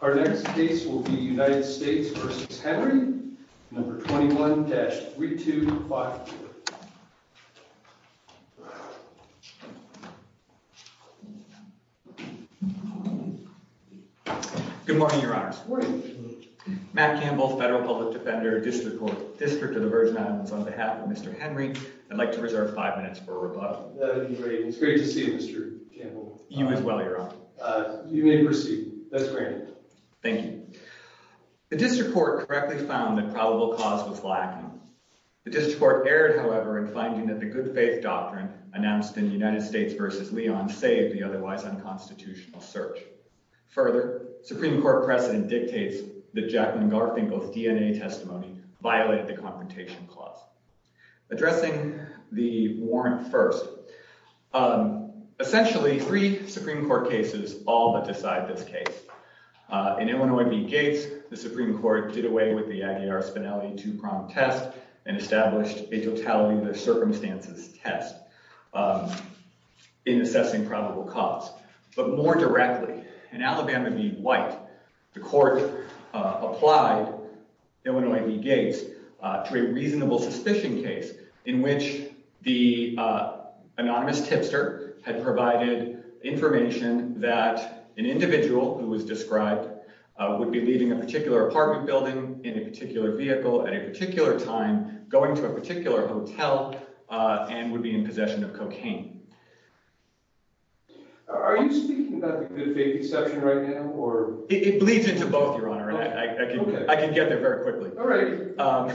21-3252. Good morning, your honors. Good morning. Matt Campbell, Federal Public Defender, District of the Virgin Islands, on behalf of Mr. Henry, I'd like to reserve five minutes for rebuttal. That would be great. It's great to see you, Mr. Campbell. Thank you. Thank you. Thank you. Thank you. Thank you. Thank you. Thank you. Thank you. Thank you. Thank you. Thank you. Thank you. That's great. Thank you. The District Court correctly found that probable cause was lacking. The District Court erred, however, in finding that the good faith doctrine announced in United States v. Leon saved the otherwise unconstitutional search. Further, Supreme Court precedent dictates that Jacqueline Garfinkel's DNA testimony violated the confrontation clause. Addressing the warrant first. Essentially, three Supreme Court cases all but decide this case. In Illinois v. Gates, the Supreme Court did away with the Aguilar-Spinelli two-pronged test and established a totality-of-circumstances test in assessing probable cause. But more directly, in Alabama v. White, the Court applied Illinois v. Gates to a reasonable suspicion case in which the anonymous tipster had provided information that an individual who was described would be leaving a particular apartment building in a particular vehicle at a particular time, going to a particular hotel, and would be in possession of cocaine. Are you speaking about the good faith deception right now? It bleeds into both, Your Honor. I can get there very quickly. All right.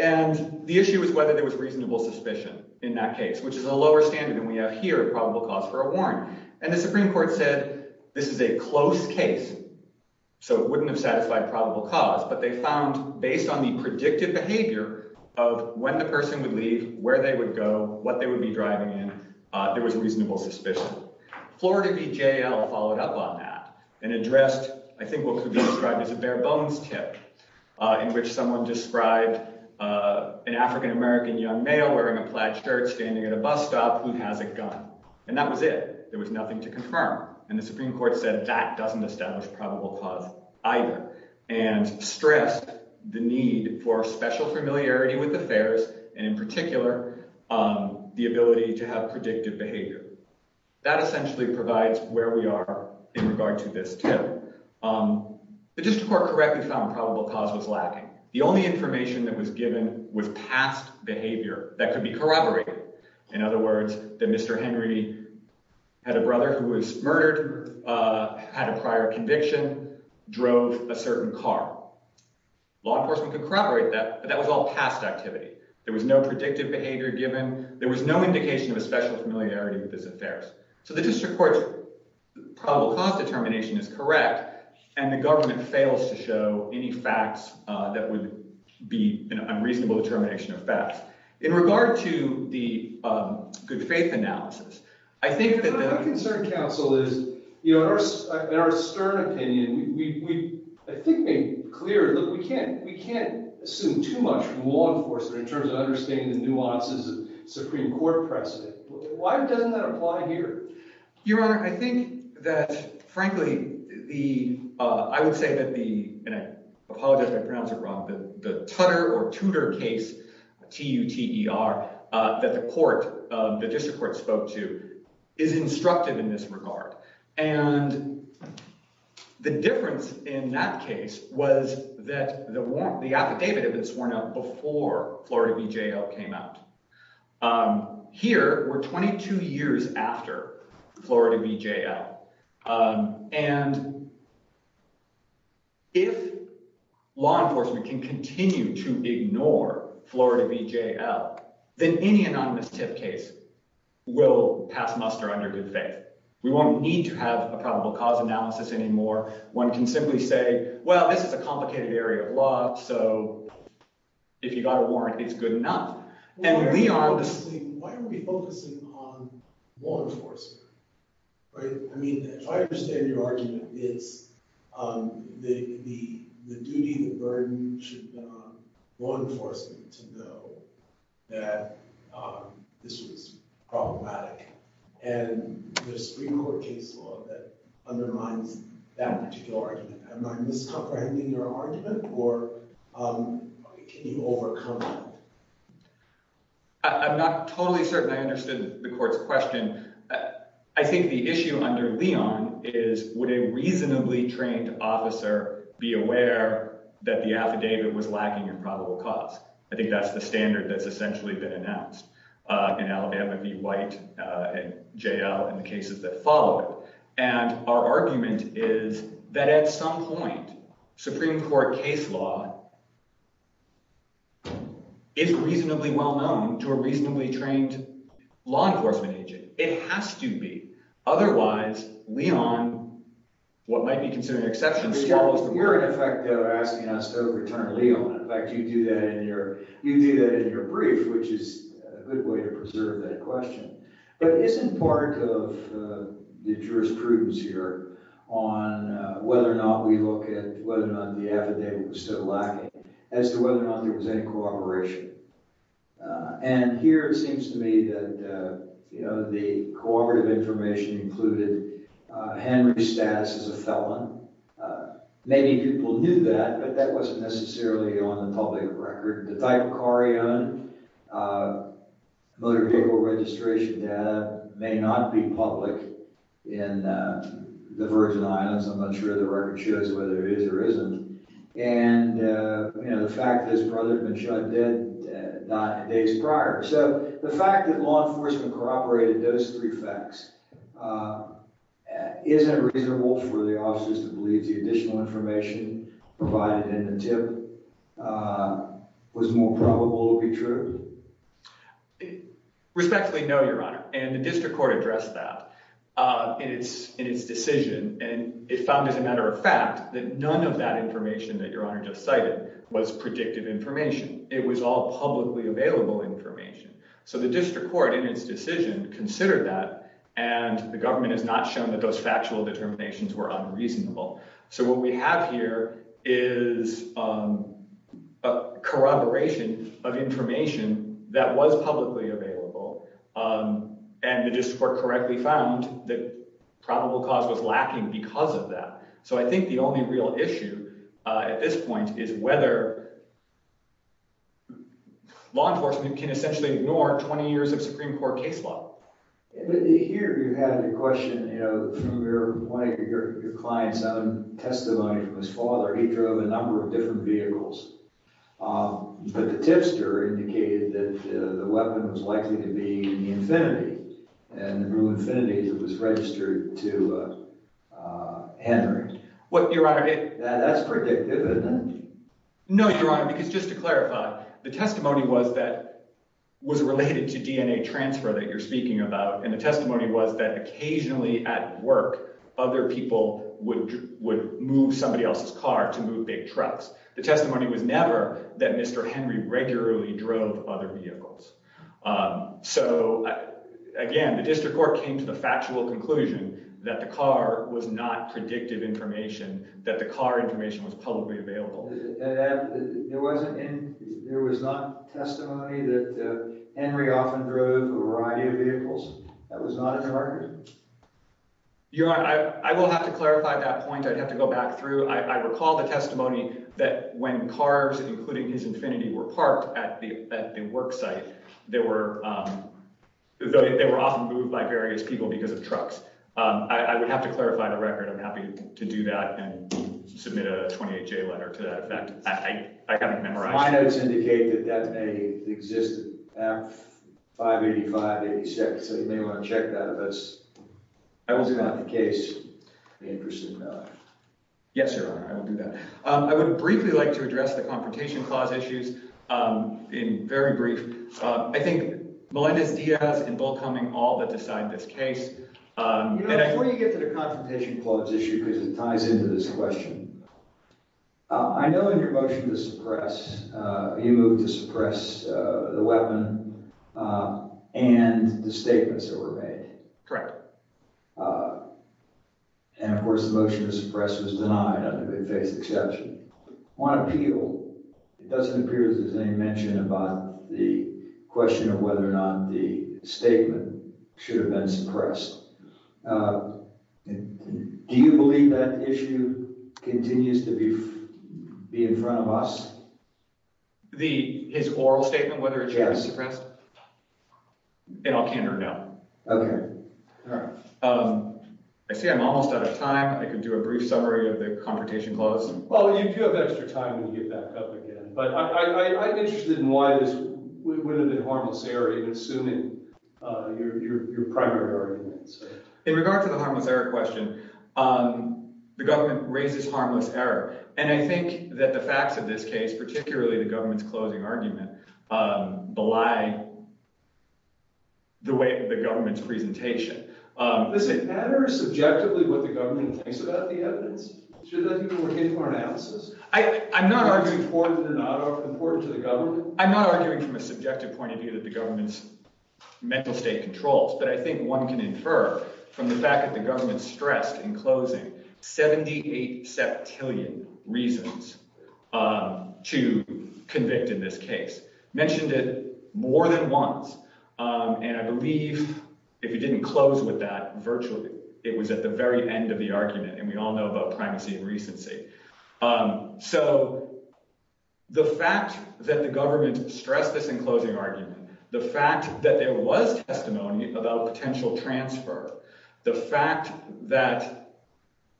And the issue is whether there was reasonable suspicion in that case, which is a lower standard than we have here of probable cause for a warrant. And the Supreme Court said this is a close case, so it wouldn't have satisfied probable cause, but they found, based on the predictive behavior of when the person would leave, where they would go, what they would be driving in, there was reasonable suspicion. Florida v. JL followed up on that and addressed, I think, what could be described as a bare-bones tip. In which someone described an African-American young male wearing a plaid shirt standing at a bus stop who has a gun. And that was it. There was nothing to confirm. And the Supreme Court said that doesn't establish probable cause either. And stressed the need for special familiarity with affairs, and in particular, the ability to have predictive behavior. That essentially provides where we are in regard to this tip. The district court correctly found probable cause was lacking. The only information that was given was past behavior that could be corroborated. In other words, that Mr. Henry had a brother who was murdered, had a prior conviction, drove a certain car. Law enforcement could corroborate that, but that was all past activity. There was no predictive behavior given. There was no indication of a special familiarity with his affairs. So the district court's probable cause determination is correct. And the government fails to show any facts that would be an unreasonable determination of facts. In regard to the good faith analysis, I think that the— My concern, counsel, is in our stern opinion, we, I think, made clear that we can't assume too much from law enforcement in terms of understanding the nuances of Supreme Court precedent. Why doesn't that apply here? Your Honor, I think that, frankly, the—I would say that the—and I apologize if I pronounce it wrong—the Tutter or Tudor case, T-U-T-E-R, that the court, the district court spoke to, is instructive in this regard. And the difference in that case was that the affidavit had been sworn out before Florida BJL came out. Here, we're 22 years after Florida BJL. And if law enforcement can continue to ignore Florida BJL, then any anonymous tip case will pass muster under good faith. We won't need to have a probable cause analysis anymore. One can simply say, well, this is a complicated area of law, so if you got a warrant, it's good enough. And we are— Why are we focusing on law enforcement? Right? I mean, if I understand your argument, it's the duty, the burden should be on law enforcement to know that this was problematic. And there's Supreme Court case law that undermines that particular argument. Am I miscomprehending your argument, or can you overcome it? I'm not totally certain I understood the court's question. I think the issue under Leon is, would a reasonably trained officer be aware that the affidavit was lacking in probable cause? I think that's the standard that's essentially been announced in Alabama v. White and JL and the cases that follow it. And our argument is that at some point, Supreme Court case law is reasonably well-known to a reasonably trained law enforcement agent. It has to be. Otherwise, Leon, what might be considered an exception— You're, in effect, asking us to overturn Leon. In fact, you do that in your brief, which is a good way to preserve that question. But isn't part of the jurisprudence here on whether or not we look at whether or not the affidavit was still lacking as to whether or not there was any cooperation? And here it seems to me that the cooperative information included Henry's status as a felon. Many people knew that, but that wasn't necessarily on the public record. The type of car he owned, motor vehicle registration data may not be public in the Virgin Islands. I'm not sure the record shows whether it is or isn't. And, you know, the fact that his brother had been shot dead days prior. So the fact that law enforcement cooperated in those three facts isn't reasonable for the officers who believe the additional information provided in the tip was more probable to be true. Respectfully, no, Your Honor. And the district court addressed that in its decision. And it found, as a matter of fact, that none of that information that Your Honor just cited was predictive information. It was all publicly available information. So the district court, in its decision, considered that. And the government has not shown that those factual determinations were unreasonable. So what we have here is a corroboration of information that was publicly available. And the district court correctly found that probable cause was lacking because of that. So I think the only real issue at this point is whether law enforcement can essentially ignore 20 years of Supreme Court case law. But here you have the question, you know, from one of your clients' own testimony from his father. He drove a number of different vehicles. But the tipster indicated that the weapon was likely to be in the Infiniti. And from Infiniti, it was registered to Henry. Well, Your Honor, it— That's predictive, isn't it? No, Your Honor, because just to clarify, the testimony was that— And the testimony was that occasionally at work, other people would move somebody else's car to move big trucks. The testimony was never that Mr. Henry regularly drove other vehicles. So, again, the district court came to the factual conclusion that the car was not predictive information, that the car information was publicly available. There was not testimony that Henry often drove a variety of vehicles? That was not a target? Your Honor, I will have to clarify that point. I'd have to go back through. I recall the testimony that when cars, including his Infiniti, were parked at the work site, they were often moved by various people because of trucks. I would have to clarify the record. I'm happy to do that and submit a 28-J letter to that effect. I haven't memorized it. My notes indicate that that may exist at 585-86, so you may want to check that. But that was not the case, in person. Yes, Your Honor, I will do that. I would briefly like to address the Confrontation Clause issues in very brief. I think Melendez-Diaz and Bill Cumming all that decide this case. Before you get to the Confrontation Clause issue, because it ties into this question, I know in your motion to suppress, you moved to suppress the weapon and the statements that were made. Correct. And, of course, the motion to suppress was denied. I don't think they faced exception. On appeal, it doesn't appear there's any mention about the question of whether or not the statement should have been suppressed. Do you believe that issue continues to be in front of us? His oral statement, whether it should have been suppressed? Yes. And I'll canter no. Okay. All right. I see I'm almost out of time. I can do a brief summary of the Confrontation Clause. Well, you do have extra time when you get back up again. But I'm interested in why this would have been harmless error, even assuming your primary arguments. In regard to the harmless error question, the government raises harmless error. And I think that the facts of this case, particularly the government's closing argument, belie the way of the government's presentation. Does it matter subjectively what the government thinks about the evidence? Should that be the way to do an analysis? I'm not arguing that it's important to the government. I'm not arguing from a subjective point of view that the government's mental state controls. But I think one can infer from the fact that the government stressed in closing 78 septillion reasons to convict in this case. Mentioned it more than once. And I believe if you didn't close with that virtually, it was at the very end of the argument. And we all know about primacy and recency. So the fact that the government stressed this in closing argument, the fact that there was testimony about potential transfer. The fact that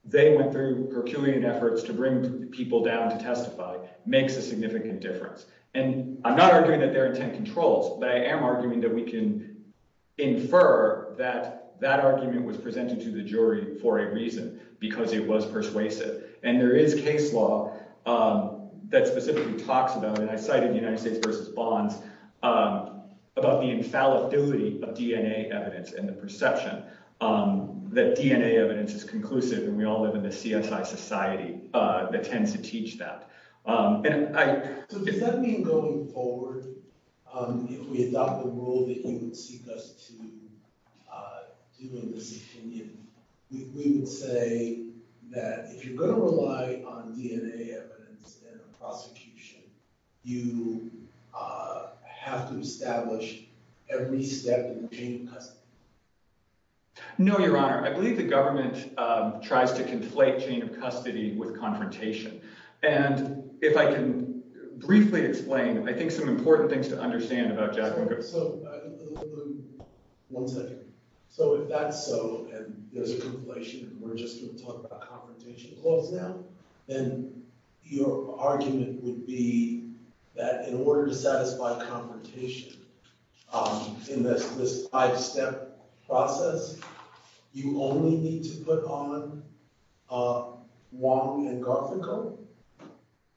they went through herculean efforts to bring people down to testify makes a significant difference. And I'm not arguing that there are 10 controls, but I am arguing that we can infer that that argument was presented to the jury for a reason because it was persuasive. And there is case law that specifically talks about and I cited the United States versus bonds about the infallibility of DNA evidence and the perception that DNA evidence is conclusive. And we all live in the CSI society that tends to teach that. So does that mean going forward, if we adopt the rule that you would seek us to do in this opinion, we would say that if you're going to rely on DNA evidence and prosecution, you have to establish every step in the chain of custody? No, Your Honor. I believe the government tries to conflate chain of custody with confrontation. And if I can briefly explain, I think some important things to understand about Jack. One second. So if that's so and there's a conflation and we're just going to talk about confrontation clause now, then your argument would be that in order to satisfy confrontation in this five-step process, you only need to put on Wong and Garfinkel?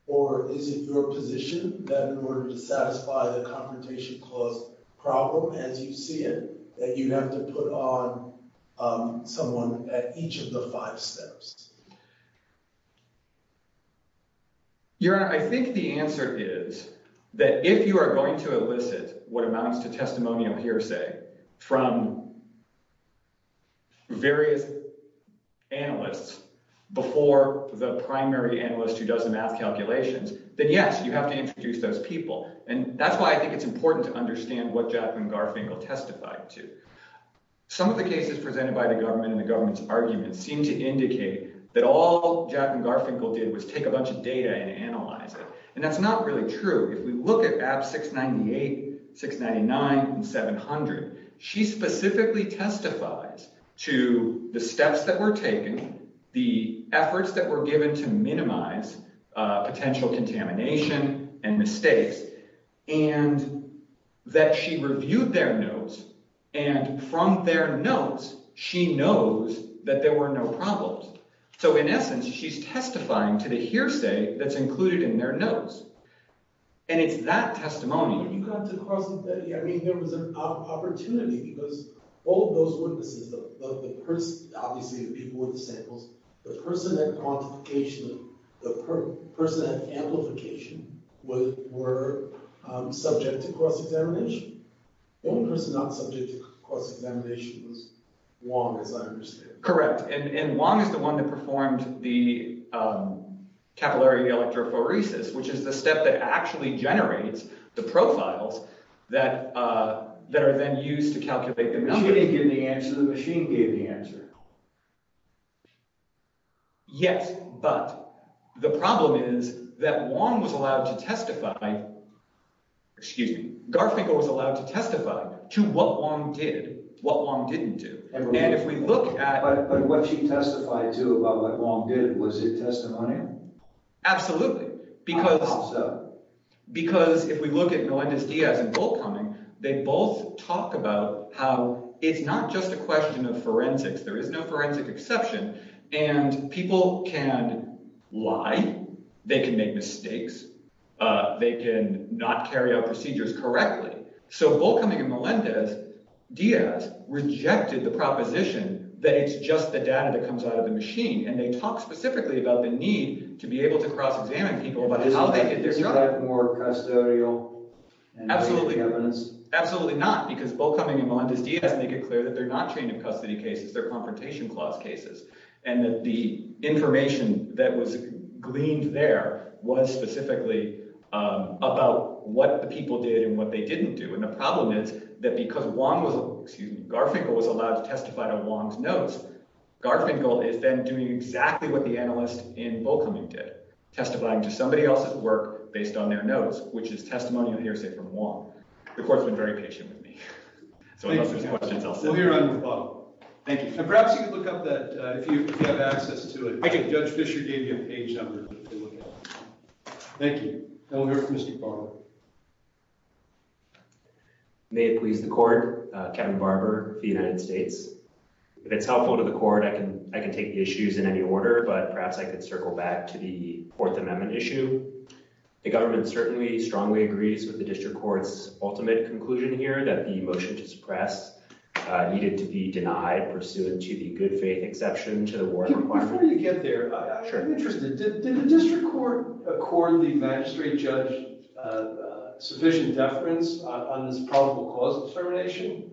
Or is it your position that in order to satisfy the confrontation clause problem as you see it, that you have to put on someone at each of the five steps? Your Honor, I think the answer is that if you are going to elicit what amounts to testimonial hearsay from various analysts before the primary analyst who does the math calculations, then yes, you have to introduce those people. And that's why I think it's important to understand what Jack and Garfinkel testified to. Some of the cases presented by the government and the government's arguments seem to indicate that all Jack and Garfinkel did was take a bunch of data and analyze it. And that's not really true. If we look at Apps 698, 699, and 700, she specifically testifies to the steps that were taken, the efforts that were given to minimize potential contamination and mistakes, and that she reviewed their notes. And from their notes, she knows that there were no problems. So in essence, she's testifying to the hearsay that's included in their notes, and it's that testimony. You got to cross-examine. I mean there was an opportunity because all of those witnesses, obviously the people with the samples, the person at quantification, the person at amplification were subject to cross-examination. The only person not subject to cross-examination was Wong, as I understand. Correct, and Wong is the one that performed the capillary electrophoresis, which is the step that actually generates the profiles that are then used to calculate the numbers. She didn't give the answer. The machine gave the answer. Yes, but the problem is that Wong was allowed to testify – excuse me – Garfinkel was allowed to testify to what Wong did, what Wong didn't do. But what she testified to about what Wong did, was it testimony? Absolutely. How so? Because if we look at Melendez-Diaz and Boltcombing, they both talk about how it's not just a question of forensics. There is no forensic exception, and people can lie. They can make mistakes. They can not carry out procedures correctly. So Boltcombing and Melendez-Diaz rejected the proposition that it's just the data that comes out of the machine, and they talk specifically about the need to be able to cross-examine people about how they did their job. Is that more custodial evidence? Absolutely not, because Boltcombing and Melendez-Diaz make it clear that they're not trained in custody cases. They're confrontation clause cases, and that the information that was gleaned there was specifically about what the people did and what they didn't do. And the problem is that because Wong was – excuse me – Garfinkel was allowed to testify to Wong's notes, Garfinkel is then doing exactly what the analyst in Boltcombing did, testifying to somebody else's work based on their notes, which is testimonial hearsay from Wong. The court's been very patient with me. So unless there's questions, I'll sit here. We'll be right at the bottom. Thank you. And perhaps you could look up that, if you have access to it. Thank you. Judge Fisher gave you a page number to look at. Thank you. Now we'll hear from Mr. Barber. May it please the court, Kevin Barber of the United States. If it's helpful to the court, I can take the issues in any order, but perhaps I could circle back to the Fourth Amendment issue. The government certainly strongly agrees with the district court's ultimate conclusion here, that the motion to suppress needed to be denied pursuant to the good faith exception to the warrant requirement. Before you get there, I'm interested. Did the district court accord the magistrate judge sufficient deference on this probable cause determination?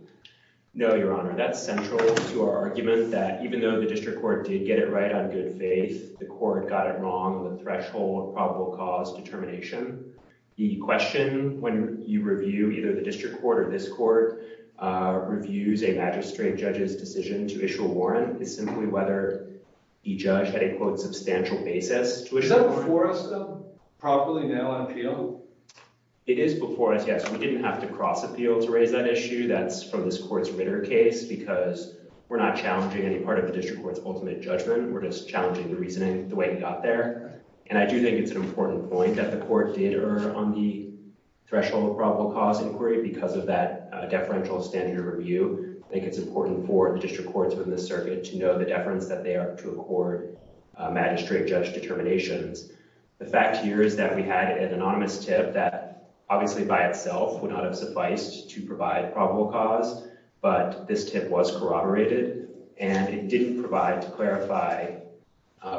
No, Your Honor. That's central to our argument that even though the district court did get it right on good faith, the court got it wrong on the threshold of probable cause determination. The question when you review either the district court or this court reviews a magistrate judge's decision to issue a warrant is simply whether the judge had a, quote, substantial basis. Is that before us, though? Properly now on appeal? It is before us, yes. We didn't have to cross appeal to raise that issue. That's from this court's Ritter case because we're not challenging any part of the district court's ultimate judgment. We're just challenging the reasoning, the way it got there. And I do think it's an important point that the court did err on the threshold of probable cause inquiry because of that deferential standard of review. I think it's important for the district courts within the circuit to know the deference that they are to accord magistrate judge determinations. The fact here is that we had an anonymous tip that obviously by itself would not have sufficed to provide probable cause, but this tip was corroborated. And it didn't provide, to clarify,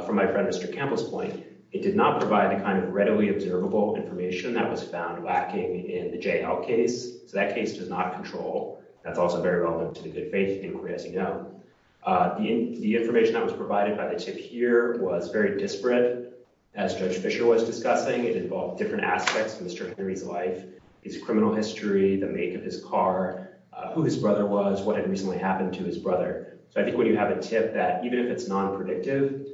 from my friend Mr. Campbell's point, it did not provide the kind of readily observable information that was found lacking in the J.L. case. So that case does not control. That's also very relevant to the good faith inquiry, as you know. The information that was provided by the tip here was very disparate. As Judge Fischer was discussing, it involved different aspects of Mr. Henry's life, his criminal history, the make of his car, who his brother was, what had recently happened to his brother. So I think when you have a tip that even if it's non-predictive,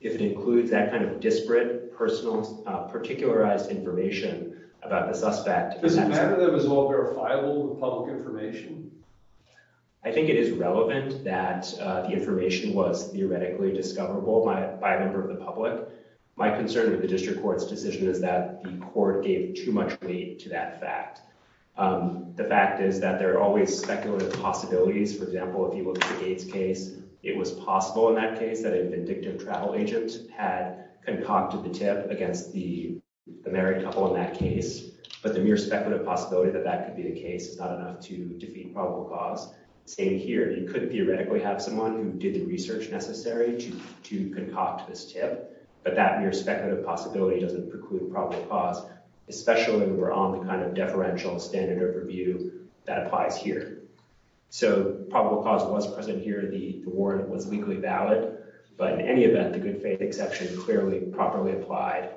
if it includes that kind of disparate, personalized information about the suspect— Does it matter that it was all verifiable public information? I think it is relevant that the information was theoretically discoverable by a member of the public. My concern with the district court's decision is that the court gave too much weight to that fact. The fact is that there are always speculative possibilities. For example, if you look at the Gates case, it was possible in that case that a vindictive travel agent had concocted the tip against the married couple in that case. But the mere speculative possibility that that could be the case is not enough to defeat probable cause. Same here. You could theoretically have someone who did the research necessary to concoct this tip, but that mere speculative possibility doesn't preclude probable cause, especially when we're on the kind of deferential standard overview that applies here. So probable cause was present here. The warrant was legally valid. But in any event, the good faith exception clearly properly applied.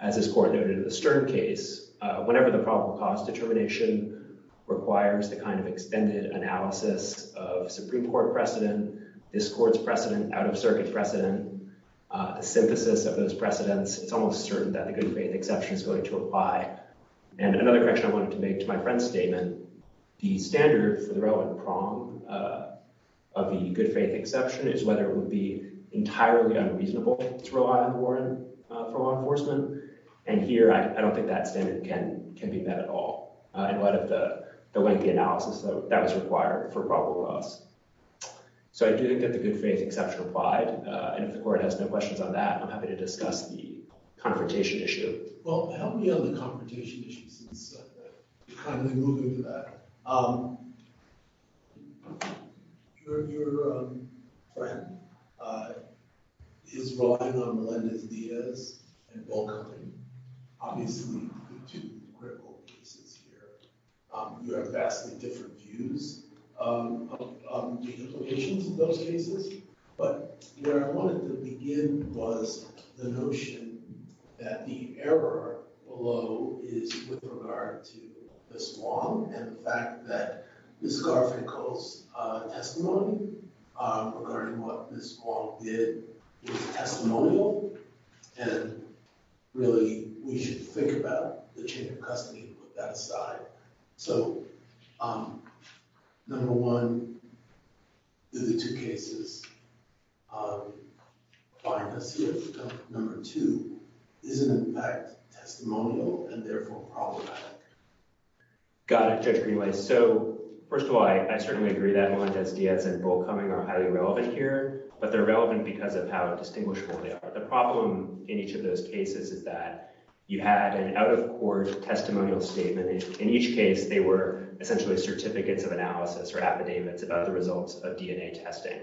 As this court noted in the Stern case, whenever the probable cause determination requires the kind of extended analysis of Supreme Court precedent, this court's precedent, out-of-circuit precedent, the synthesis of those precedents, it's almost certain that the good faith exception is going to apply. And another correction I wanted to make to my friend's statement, the standard for the relevant prong of the good faith exception is whether it would be entirely unreasonable to rely on the warrant for law enforcement. And here, I don't think that standard can be met at all in light of the lengthy analysis that was required for probable cause. So I do think that the good faith exception applied. And if the court has no questions on that, I'm happy to discuss the confrontation issue. Well, help me on the confrontation issues and stuff. I'm going to move into that. Your friend is relying on Melendez-Diaz and Volker. Obviously, the two critical cases here. You have vastly different views on the implications of those cases. But where I wanted to begin was the notion that the error below is with regard to Ms. Huang and the fact that Ms. Garfinkel's testimony regarding what Ms. Huang did was testimonial. And really, we should think about the chain of custody and put that aside. So number one, the two cases find us here. Number two, is it, in fact, testimonial and therefore problematic? Got it, Judge Greenway. So first of all, I certainly agree that Melendez-Diaz and Volkermann are highly relevant here. But they're relevant because of how distinguishable they are. The problem in each of those cases is that you had an out-of-court testimonial statement. In each case, they were essentially certificates of analysis or affidavits about the results of DNA testing.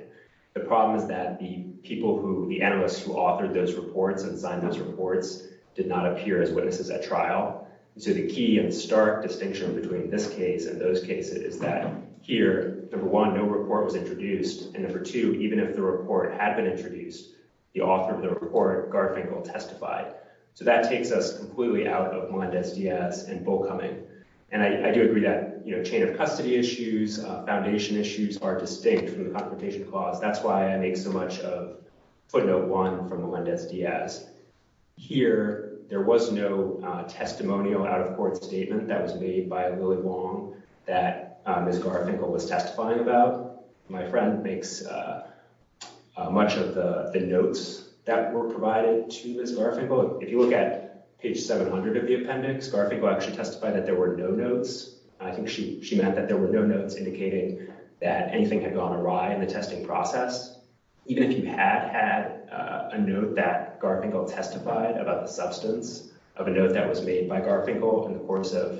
The problem is that the people who – the analysts who authored those reports and signed those reports did not appear as witnesses at trial. So the key and stark distinction between this case and those cases is that here, number one, no report was introduced. And number two, even if the report had been introduced, the author of the report, Garfinkel, testified. So that takes us completely out of Melendez-Diaz and Volkermann. And I do agree that chain of custody issues, foundation issues are distinct from the confrontation clause. That's why I make so much of footnote one from Melendez-Diaz. Here, there was no testimonial out-of-court statement that was made by Lily Huang that Ms. Garfinkel was testifying about. My friend makes much of the notes that were provided to Ms. Garfinkel. If you look at page 700 of the appendix, Garfinkel actually testified that there were no notes. I think she meant that there were no notes indicating that anything had gone awry in the testing process. Even if you had had a note that Garfinkel testified about the substance of a note that was made by Garfinkel in the course of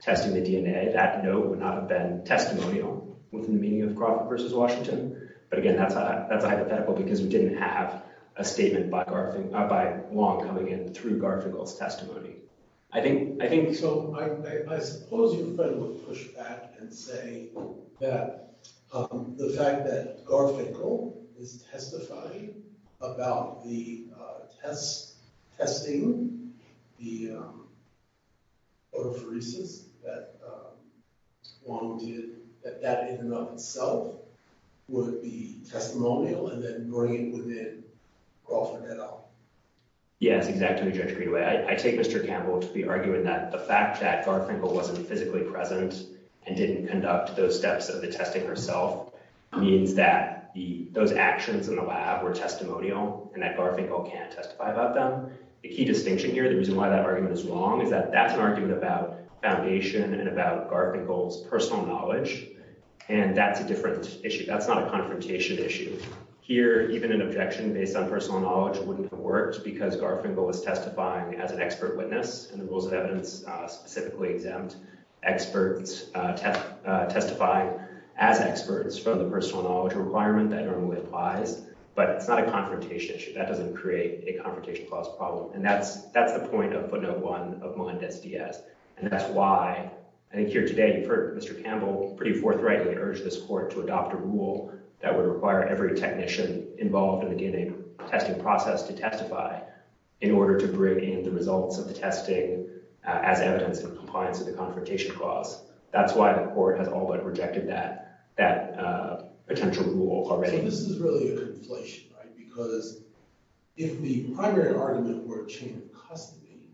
testing the DNA, that note would not have been testimonial within the meaning of Crawford v. Washington. But again, that's a hypothetical because we didn't have a statement by Huang coming in through Garfinkel's testimony. So I suppose your friend would push back and say that the fact that Garfinkel is testifying about the testing, the autophoresis that Huang did, that that in and of itself would be testimonial and then bring it within Crawford et al. Yes, exactly, Judge Greenaway. I take Mr. Campbell to be arguing that the fact that Garfinkel wasn't physically present and didn't conduct those steps of the testing herself means that those actions in the lab were testimonial and that Garfinkel can't testify about them. The key distinction here, the reason why that argument is wrong, is that that's an argument about foundation and about Garfinkel's personal knowledge. And that's a different issue. That's not a confrontation issue. Here, even an objection based on personal knowledge wouldn't have worked because Garfinkel was testifying as an expert witness, and the rules of evidence specifically exempt experts testifying as experts from the personal knowledge requirement that normally applies. But it's not a confrontation issue. That doesn't create a confrontation clause problem. And that's the point of footnote one of Melendez-Diaz. And that's why I think here today you've heard Mr. Campbell pretty forthrightly urge this court to adopt a rule that would require every technician involved in the DNA testing process to testify in order to bring in the results of the testing as evidence in compliance with the confrontation clause. That's why the court has all but rejected that potential rule already. I think this is really a conflation, right? Because if the primary argument were a chain of custody,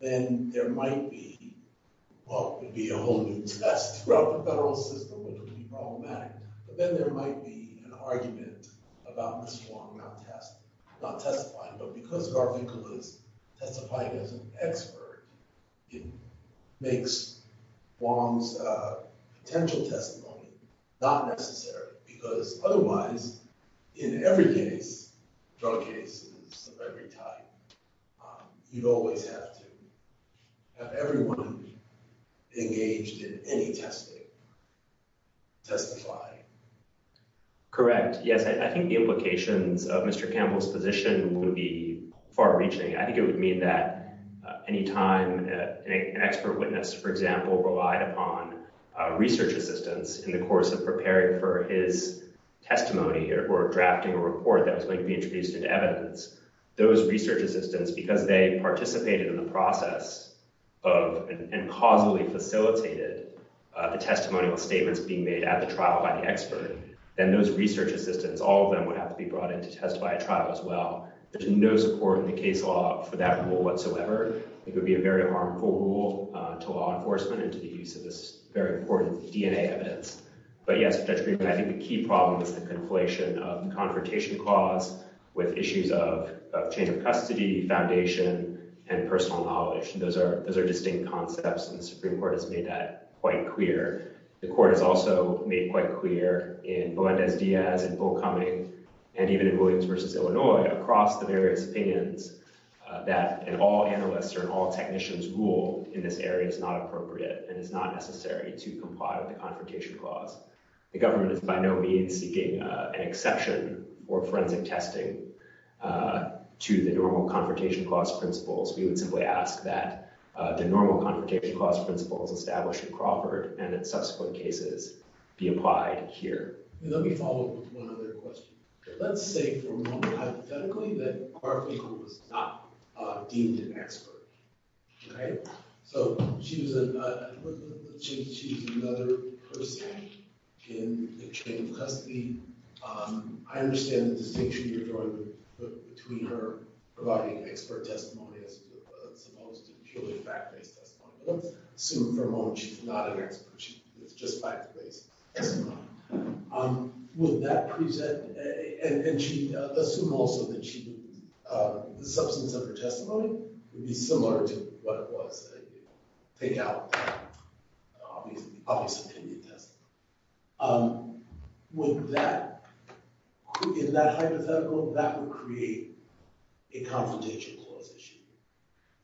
then there might be a whole new test throughout the federal system that could be problematic. But then there might be an argument about Ms. Huang not testifying. But because Garfinkel was testifying as an expert, it makes Huang's potential testimony not necessary. Because otherwise, in every case, drug cases of every type, you'd always have to have everyone engaged in any testing testify. Correct. Yes, I think the implications of Mr. Campbell's position would be far-reaching. I think it would mean that any time an expert witness, for example, relied upon research assistants in the course of preparing for his testimony or drafting a report that was going to be introduced into evidence, those research assistants, because they participated in the process of and causally facilitated the testimonial statements being made at the trial by the expert, then those research assistants, all of them would have to be brought in to testify at trial as well. There's no support in the case law for that rule whatsoever. It would be a very harmful rule to law enforcement and to the use of this very important DNA evidence. But yes, Judge Greenberg, I think the key problem is the conflation of the confrontation clause with issues of chain of custody, foundation, and personal knowledge. Those are distinct concepts, and the Supreme Court has made that quite clear. The court has also made quite clear in Melendez-Diaz and Bull Cummings and even in Williams v. Illinois across the various opinions that an all-analyst or an all-technician's rule in this area is not appropriate and is not necessary to comply with the confrontation clause. The government is by no means seeking an exception or forensic testing to the normal confrontation clause principles. We would simply ask that the normal confrontation clause principles established in Crawford and in subsequent cases be applied here. Let me follow up with one other question. Let's say, for a moment, hypothetically, that Garfinkel was not deemed an expert. So she was another person in the chain of custody. I understand the distinction you're drawing between her providing expert testimony as opposed to purely fact-based testimony. But let's assume for a moment she's not an expert. She's just fact-based testimony. Would that present – and she – assume also that she would – the substance of her testimony would be similar to what it was that you take out an obvious opinion testimony. Would that – in that hypothetical, that would create a confrontation clause issue?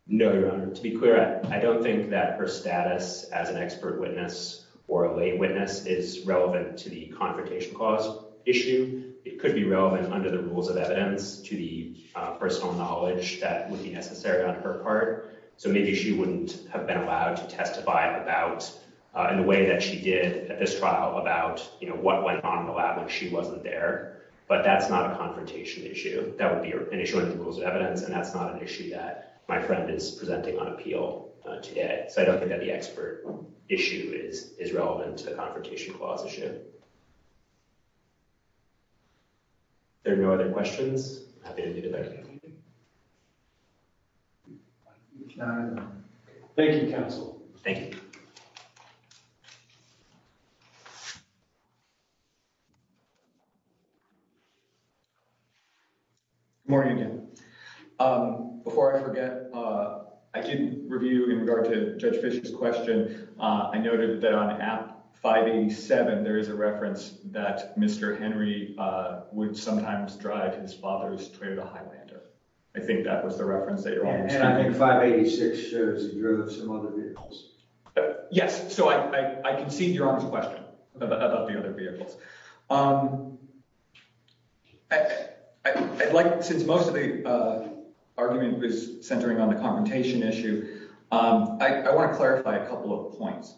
No, Your Honor. To be clear, I don't think that her status as an expert witness or a lay witness is relevant to the confrontation clause issue. It could be relevant under the rules of evidence to the personal knowledge that would be necessary on her part. So maybe she wouldn't have been allowed to testify about – in the way that she did at this trial about, you know, what went on in the lab when she wasn't there. But that's not a confrontation issue. That would be an issue under the rules of evidence, and that's not an issue that my friend is presenting on appeal today. So I don't think that the expert issue is relevant to the confrontation clause issue. Are there no other questions? I'm happy to do the voting. Thank you, counsel. Thank you. Good morning again. Before I forget, I did review in regard to Judge Fischer's question. I noted that on app 587 there is a reference that Mr. Henry would sometimes drive his father's Toyota Highlander. I think that was the reference that Your Honor was taking. And I think 586 shows he drove some other vehicles. Yes, so I concede Your Honor's question about the other vehicles. I'd like – since most of the argument was centering on the confrontation issue, I want to clarify a couple of points.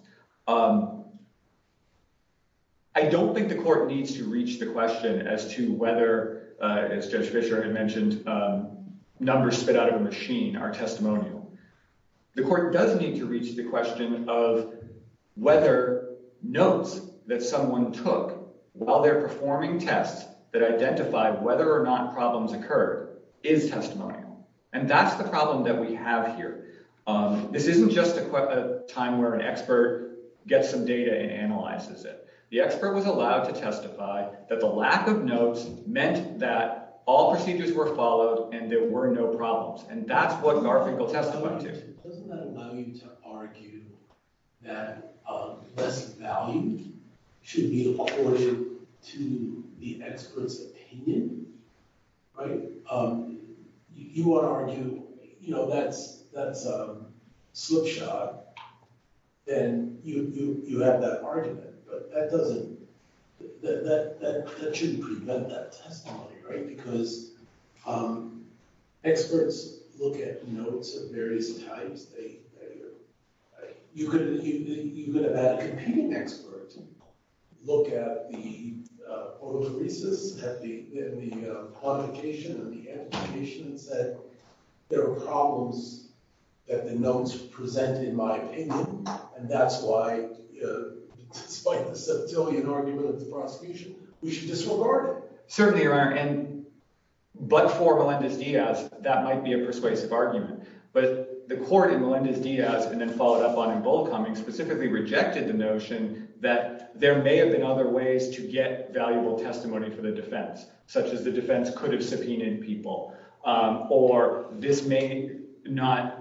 I don't think the court needs to reach the question as to whether, as Judge Fischer had mentioned, numbers spit out of a machine are testimonial. The court does need to reach the question of whether notes that someone took while they're performing tests that identify whether or not problems occurred is testimonial. And that's the problem that we have here. This isn't just a time where an expert gets some data and analyzes it. The expert was allowed to testify that the lack of notes meant that all procedures were followed and there were no problems. And that's what graphical testimony is. Doesn't that allow you to argue that less value should be accorded to the expert's opinion? You want to argue that's a slip shot, then you have that argument. But that doesn't – that shouldn't prevent that testimony, right? Because experts look at notes at various times. You could have had a competing expert look at the photoresis and the quantification and the amplification and said there are problems that the notes present in my opinion. And that's why, despite the septillion argument of the prosecution, we should disregard it. But for Melendez-Diaz, that might be a persuasive argument. But the court in Melendez-Diaz and then followed up on in Bollcombing specifically rejected the notion that there may have been other ways to get valuable testimony for the defense, such as the defense could have subpoenaed people. Or this may not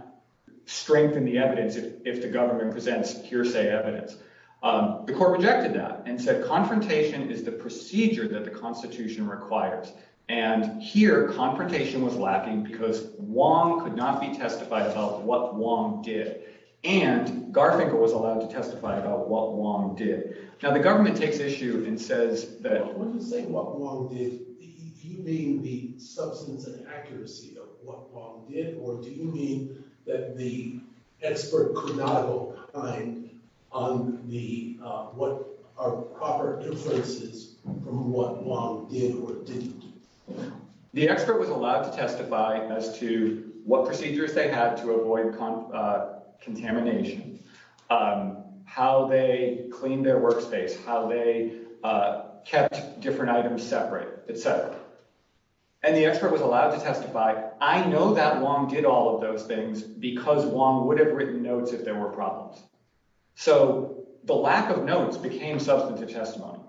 strengthen the evidence if the government presents hearsay evidence. The court rejected that and said confrontation is the procedure that the Constitution requires. And here confrontation was lacking because Wong could not be testified about what Wong did. And Garfinkel was allowed to testify about what Wong did. Now, the government takes issue and says that – When you say what Wong did, do you mean the substance and accuracy of what Wong did? Or do you mean that the expert could not have relied on the – what are proper inferences from what Wong did or didn't do? The expert was allowed to testify as to what procedures they had to avoid contamination, how they cleaned their workspace, how they kept different items separate, et cetera. And the expert was allowed to testify, I know that Wong did all of those things because Wong would have written notes if there were problems. So the lack of notes became substantive testimony.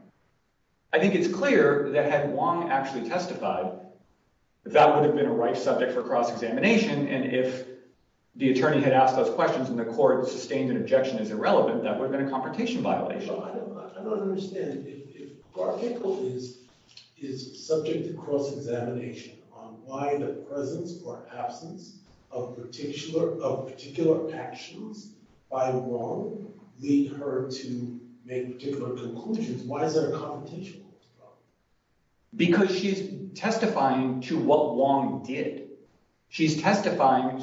I think it's clear that had Wong actually testified, that would have been a right subject for cross-examination. And if the attorney had asked those questions and the court sustained an objection as irrelevant, that would have been a confrontation violation. I don't understand. If Garfinkel is subject to cross-examination on why the presence or absence of particular actions by Wong lead her to make particular conclusions, why is there a confrontation? Because she's testifying to what Wong did. She's testifying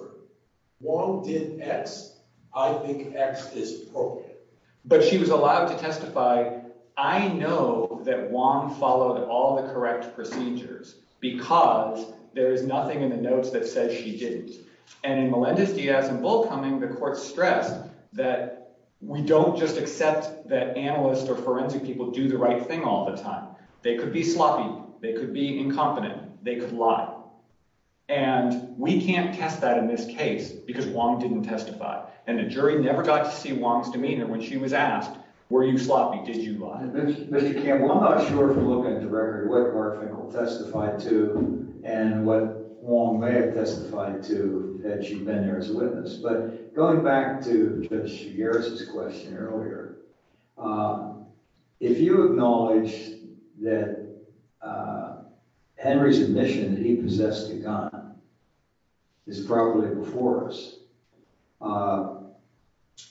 – Wong did X. I think X is appropriate. But she was allowed to testify, I know that Wong followed all the correct procedures because there is nothing in the notes that says she didn't. And in Melendez-Diaz and Bullcoming, the court stressed that we don't just accept that analysts or forensic people do the right thing all the time. They could be sloppy. They could be incompetent. They could lie. And we can't test that in this case because Wong didn't testify. And the jury never got to see Wong's demeanor when she was asked, were you sloppy? Did you lie? Mr. Campbell, I'm not sure from looking at the record what Garfinkel testified to and what Wong may have testified to had she been there as a witness. But going back to Judge Shigeru's question earlier, if you acknowledge that Henry's admission that he possessed a gun is probably before us,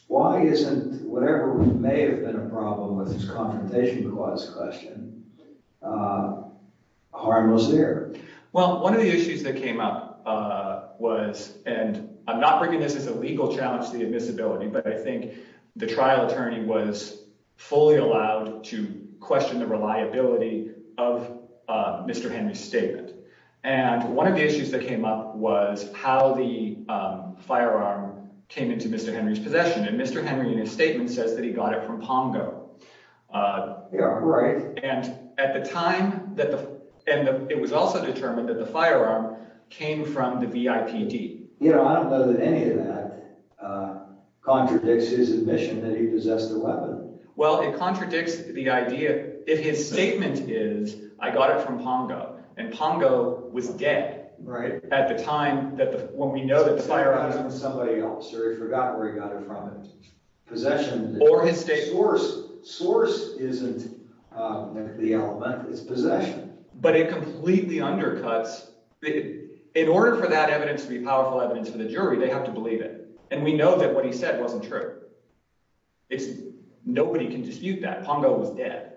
why isn't whatever may have been a problem with his confrontation cause question harmless there? Well, one of the issues that came up was and I'm not bringing this as a legal challenge to the admissibility, but I think the trial attorney was fully allowed to question the reliability of Mr. Henry's statement. And one of the issues that came up was how the firearm came into Mr. Henry's possession. And Mr. Henry, in his statement, says that he got it from Pongo. Yeah, right. And at the time that and it was also determined that the firearm came from the V.I.P.D. You know, I don't know that any of that contradicts his admission that he possessed the weapon. Well, it contradicts the idea if his statement is I got it from Pongo and Pongo was dead. Right. At the time that when we know that fire on somebody else or he forgot where he got it from possession or his source source isn't the element is possession, but it completely undercuts. In order for that evidence to be powerful evidence for the jury, they have to believe it. And we know that what he said wasn't true. It's nobody can dispute that Pongo was dead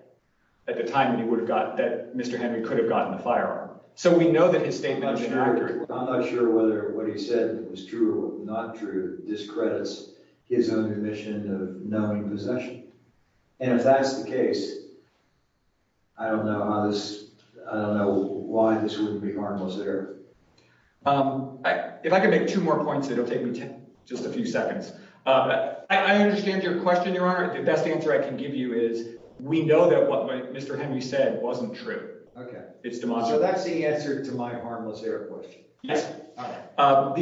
at the time and he would have got that. Mr. Henry could have gotten the firearm. So we know that his statement. I'm not sure whether what he said was true or not true discredits his own admission of knowing possession. And if that's the case, I don't know how this I don't know why this wouldn't be harmless there. If I could make two more points, it'll take me just a few seconds. I understand your question, Your Honor. The best answer I can give you is we know that what Mr. Henry said wasn't true. OK, it's the monster. That's the answer to my harmless air. Yes. The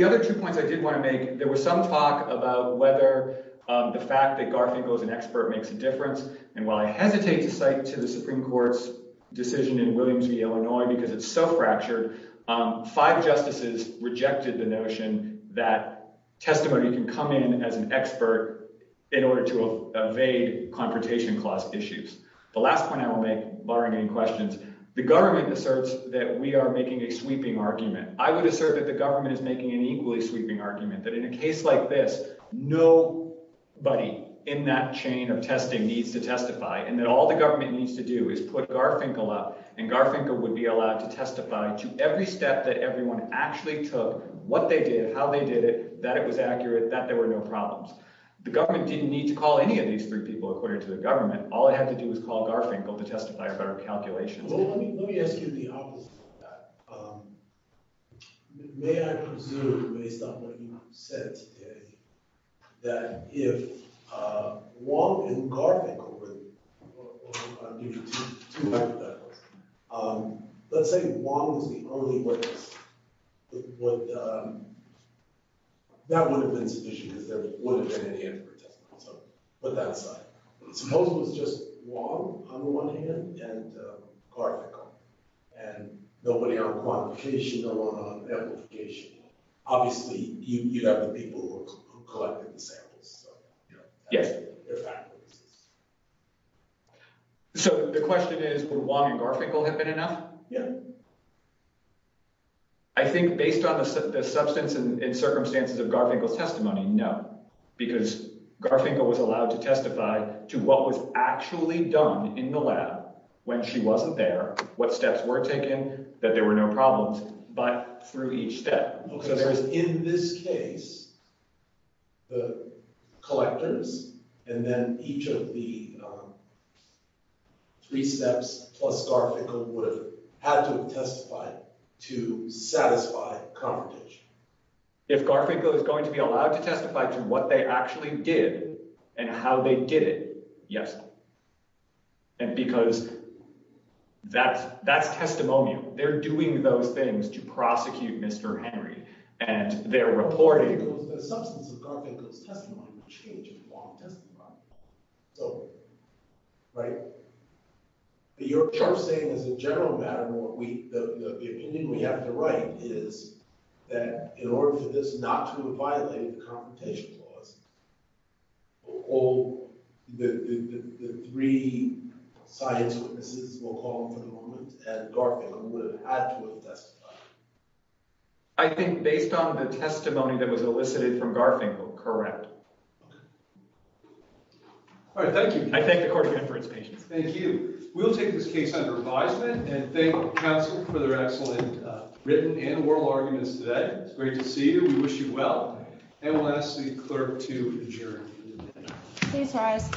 other two points I did want to make. There was some talk about whether the fact that Garfield was an expert makes a difference. And while I hesitate to cite to the Supreme Court's decision in Williamsville, Illinois, because it's so fractured, five justices rejected the notion that testimony can come in as an expert in order to evade confrontation clause issues. The last point I will make, barring any questions, the government asserts that we are making a sweeping argument. I would assert that the government is making an equally sweeping argument that in a case like this, nobody in that chain of testing needs to testify and that all the government needs to do is put Garfinkel up and Garfinkel would be allowed to testify to every step that everyone actually took, what they did, how they did it, that it was accurate, that there were no problems. The government didn't need to call any of these three people, according to the government. All I have to do is call Garfinkel to testify about our calculations. Let me ask you the opposite of that. May I presume, based on what you said today, that if Wong and Garfinkel were— I'm giving you two hypotheticals. Let's say Wong was the only witness. That would have been sufficient, because there would have been a hand for a testimony, so put that aside. Suppose it was just Wong, on the one hand, and Garfinkel, and nobody on quantification, no one on amplification. Obviously, you'd have the people who collected the samples. Yes. So the question is, would Wong and Garfinkel have been enough? Yeah. I think, based on the substance and circumstances of Garfinkel's testimony, no, because Garfinkel was allowed to testify to what was actually done in the lab when she wasn't there, what steps were taken, that there were no problems, but through each step. So in this case, the collectors and then each of the three steps plus Garfinkel would have had to have testified to satisfy confrontation. If Garfinkel is going to be allowed to testify to what they actually did and how they did it, yes, because that's testimony. They're doing those things to prosecute Mr. Henry, and they're reporting. The substance of Garfinkel's testimony would change if Wong testified. Right? But you're saying, as a general matter, the opinion we have to write is that, in order for this not to violate the confrontation clause, all the three science witnesses, we'll call them for the moment, and Garfinkel would have had to have testified. I think, based on the testimony that was elicited from Garfinkel, correct. All right. Thank you. I thank the court again for its patience. Thank you. We'll take this case under advisement and thank counsel for their excellent written and oral arguments today. It's great to see you. We wish you well. And we'll ask the clerk to adjourn. Please rise.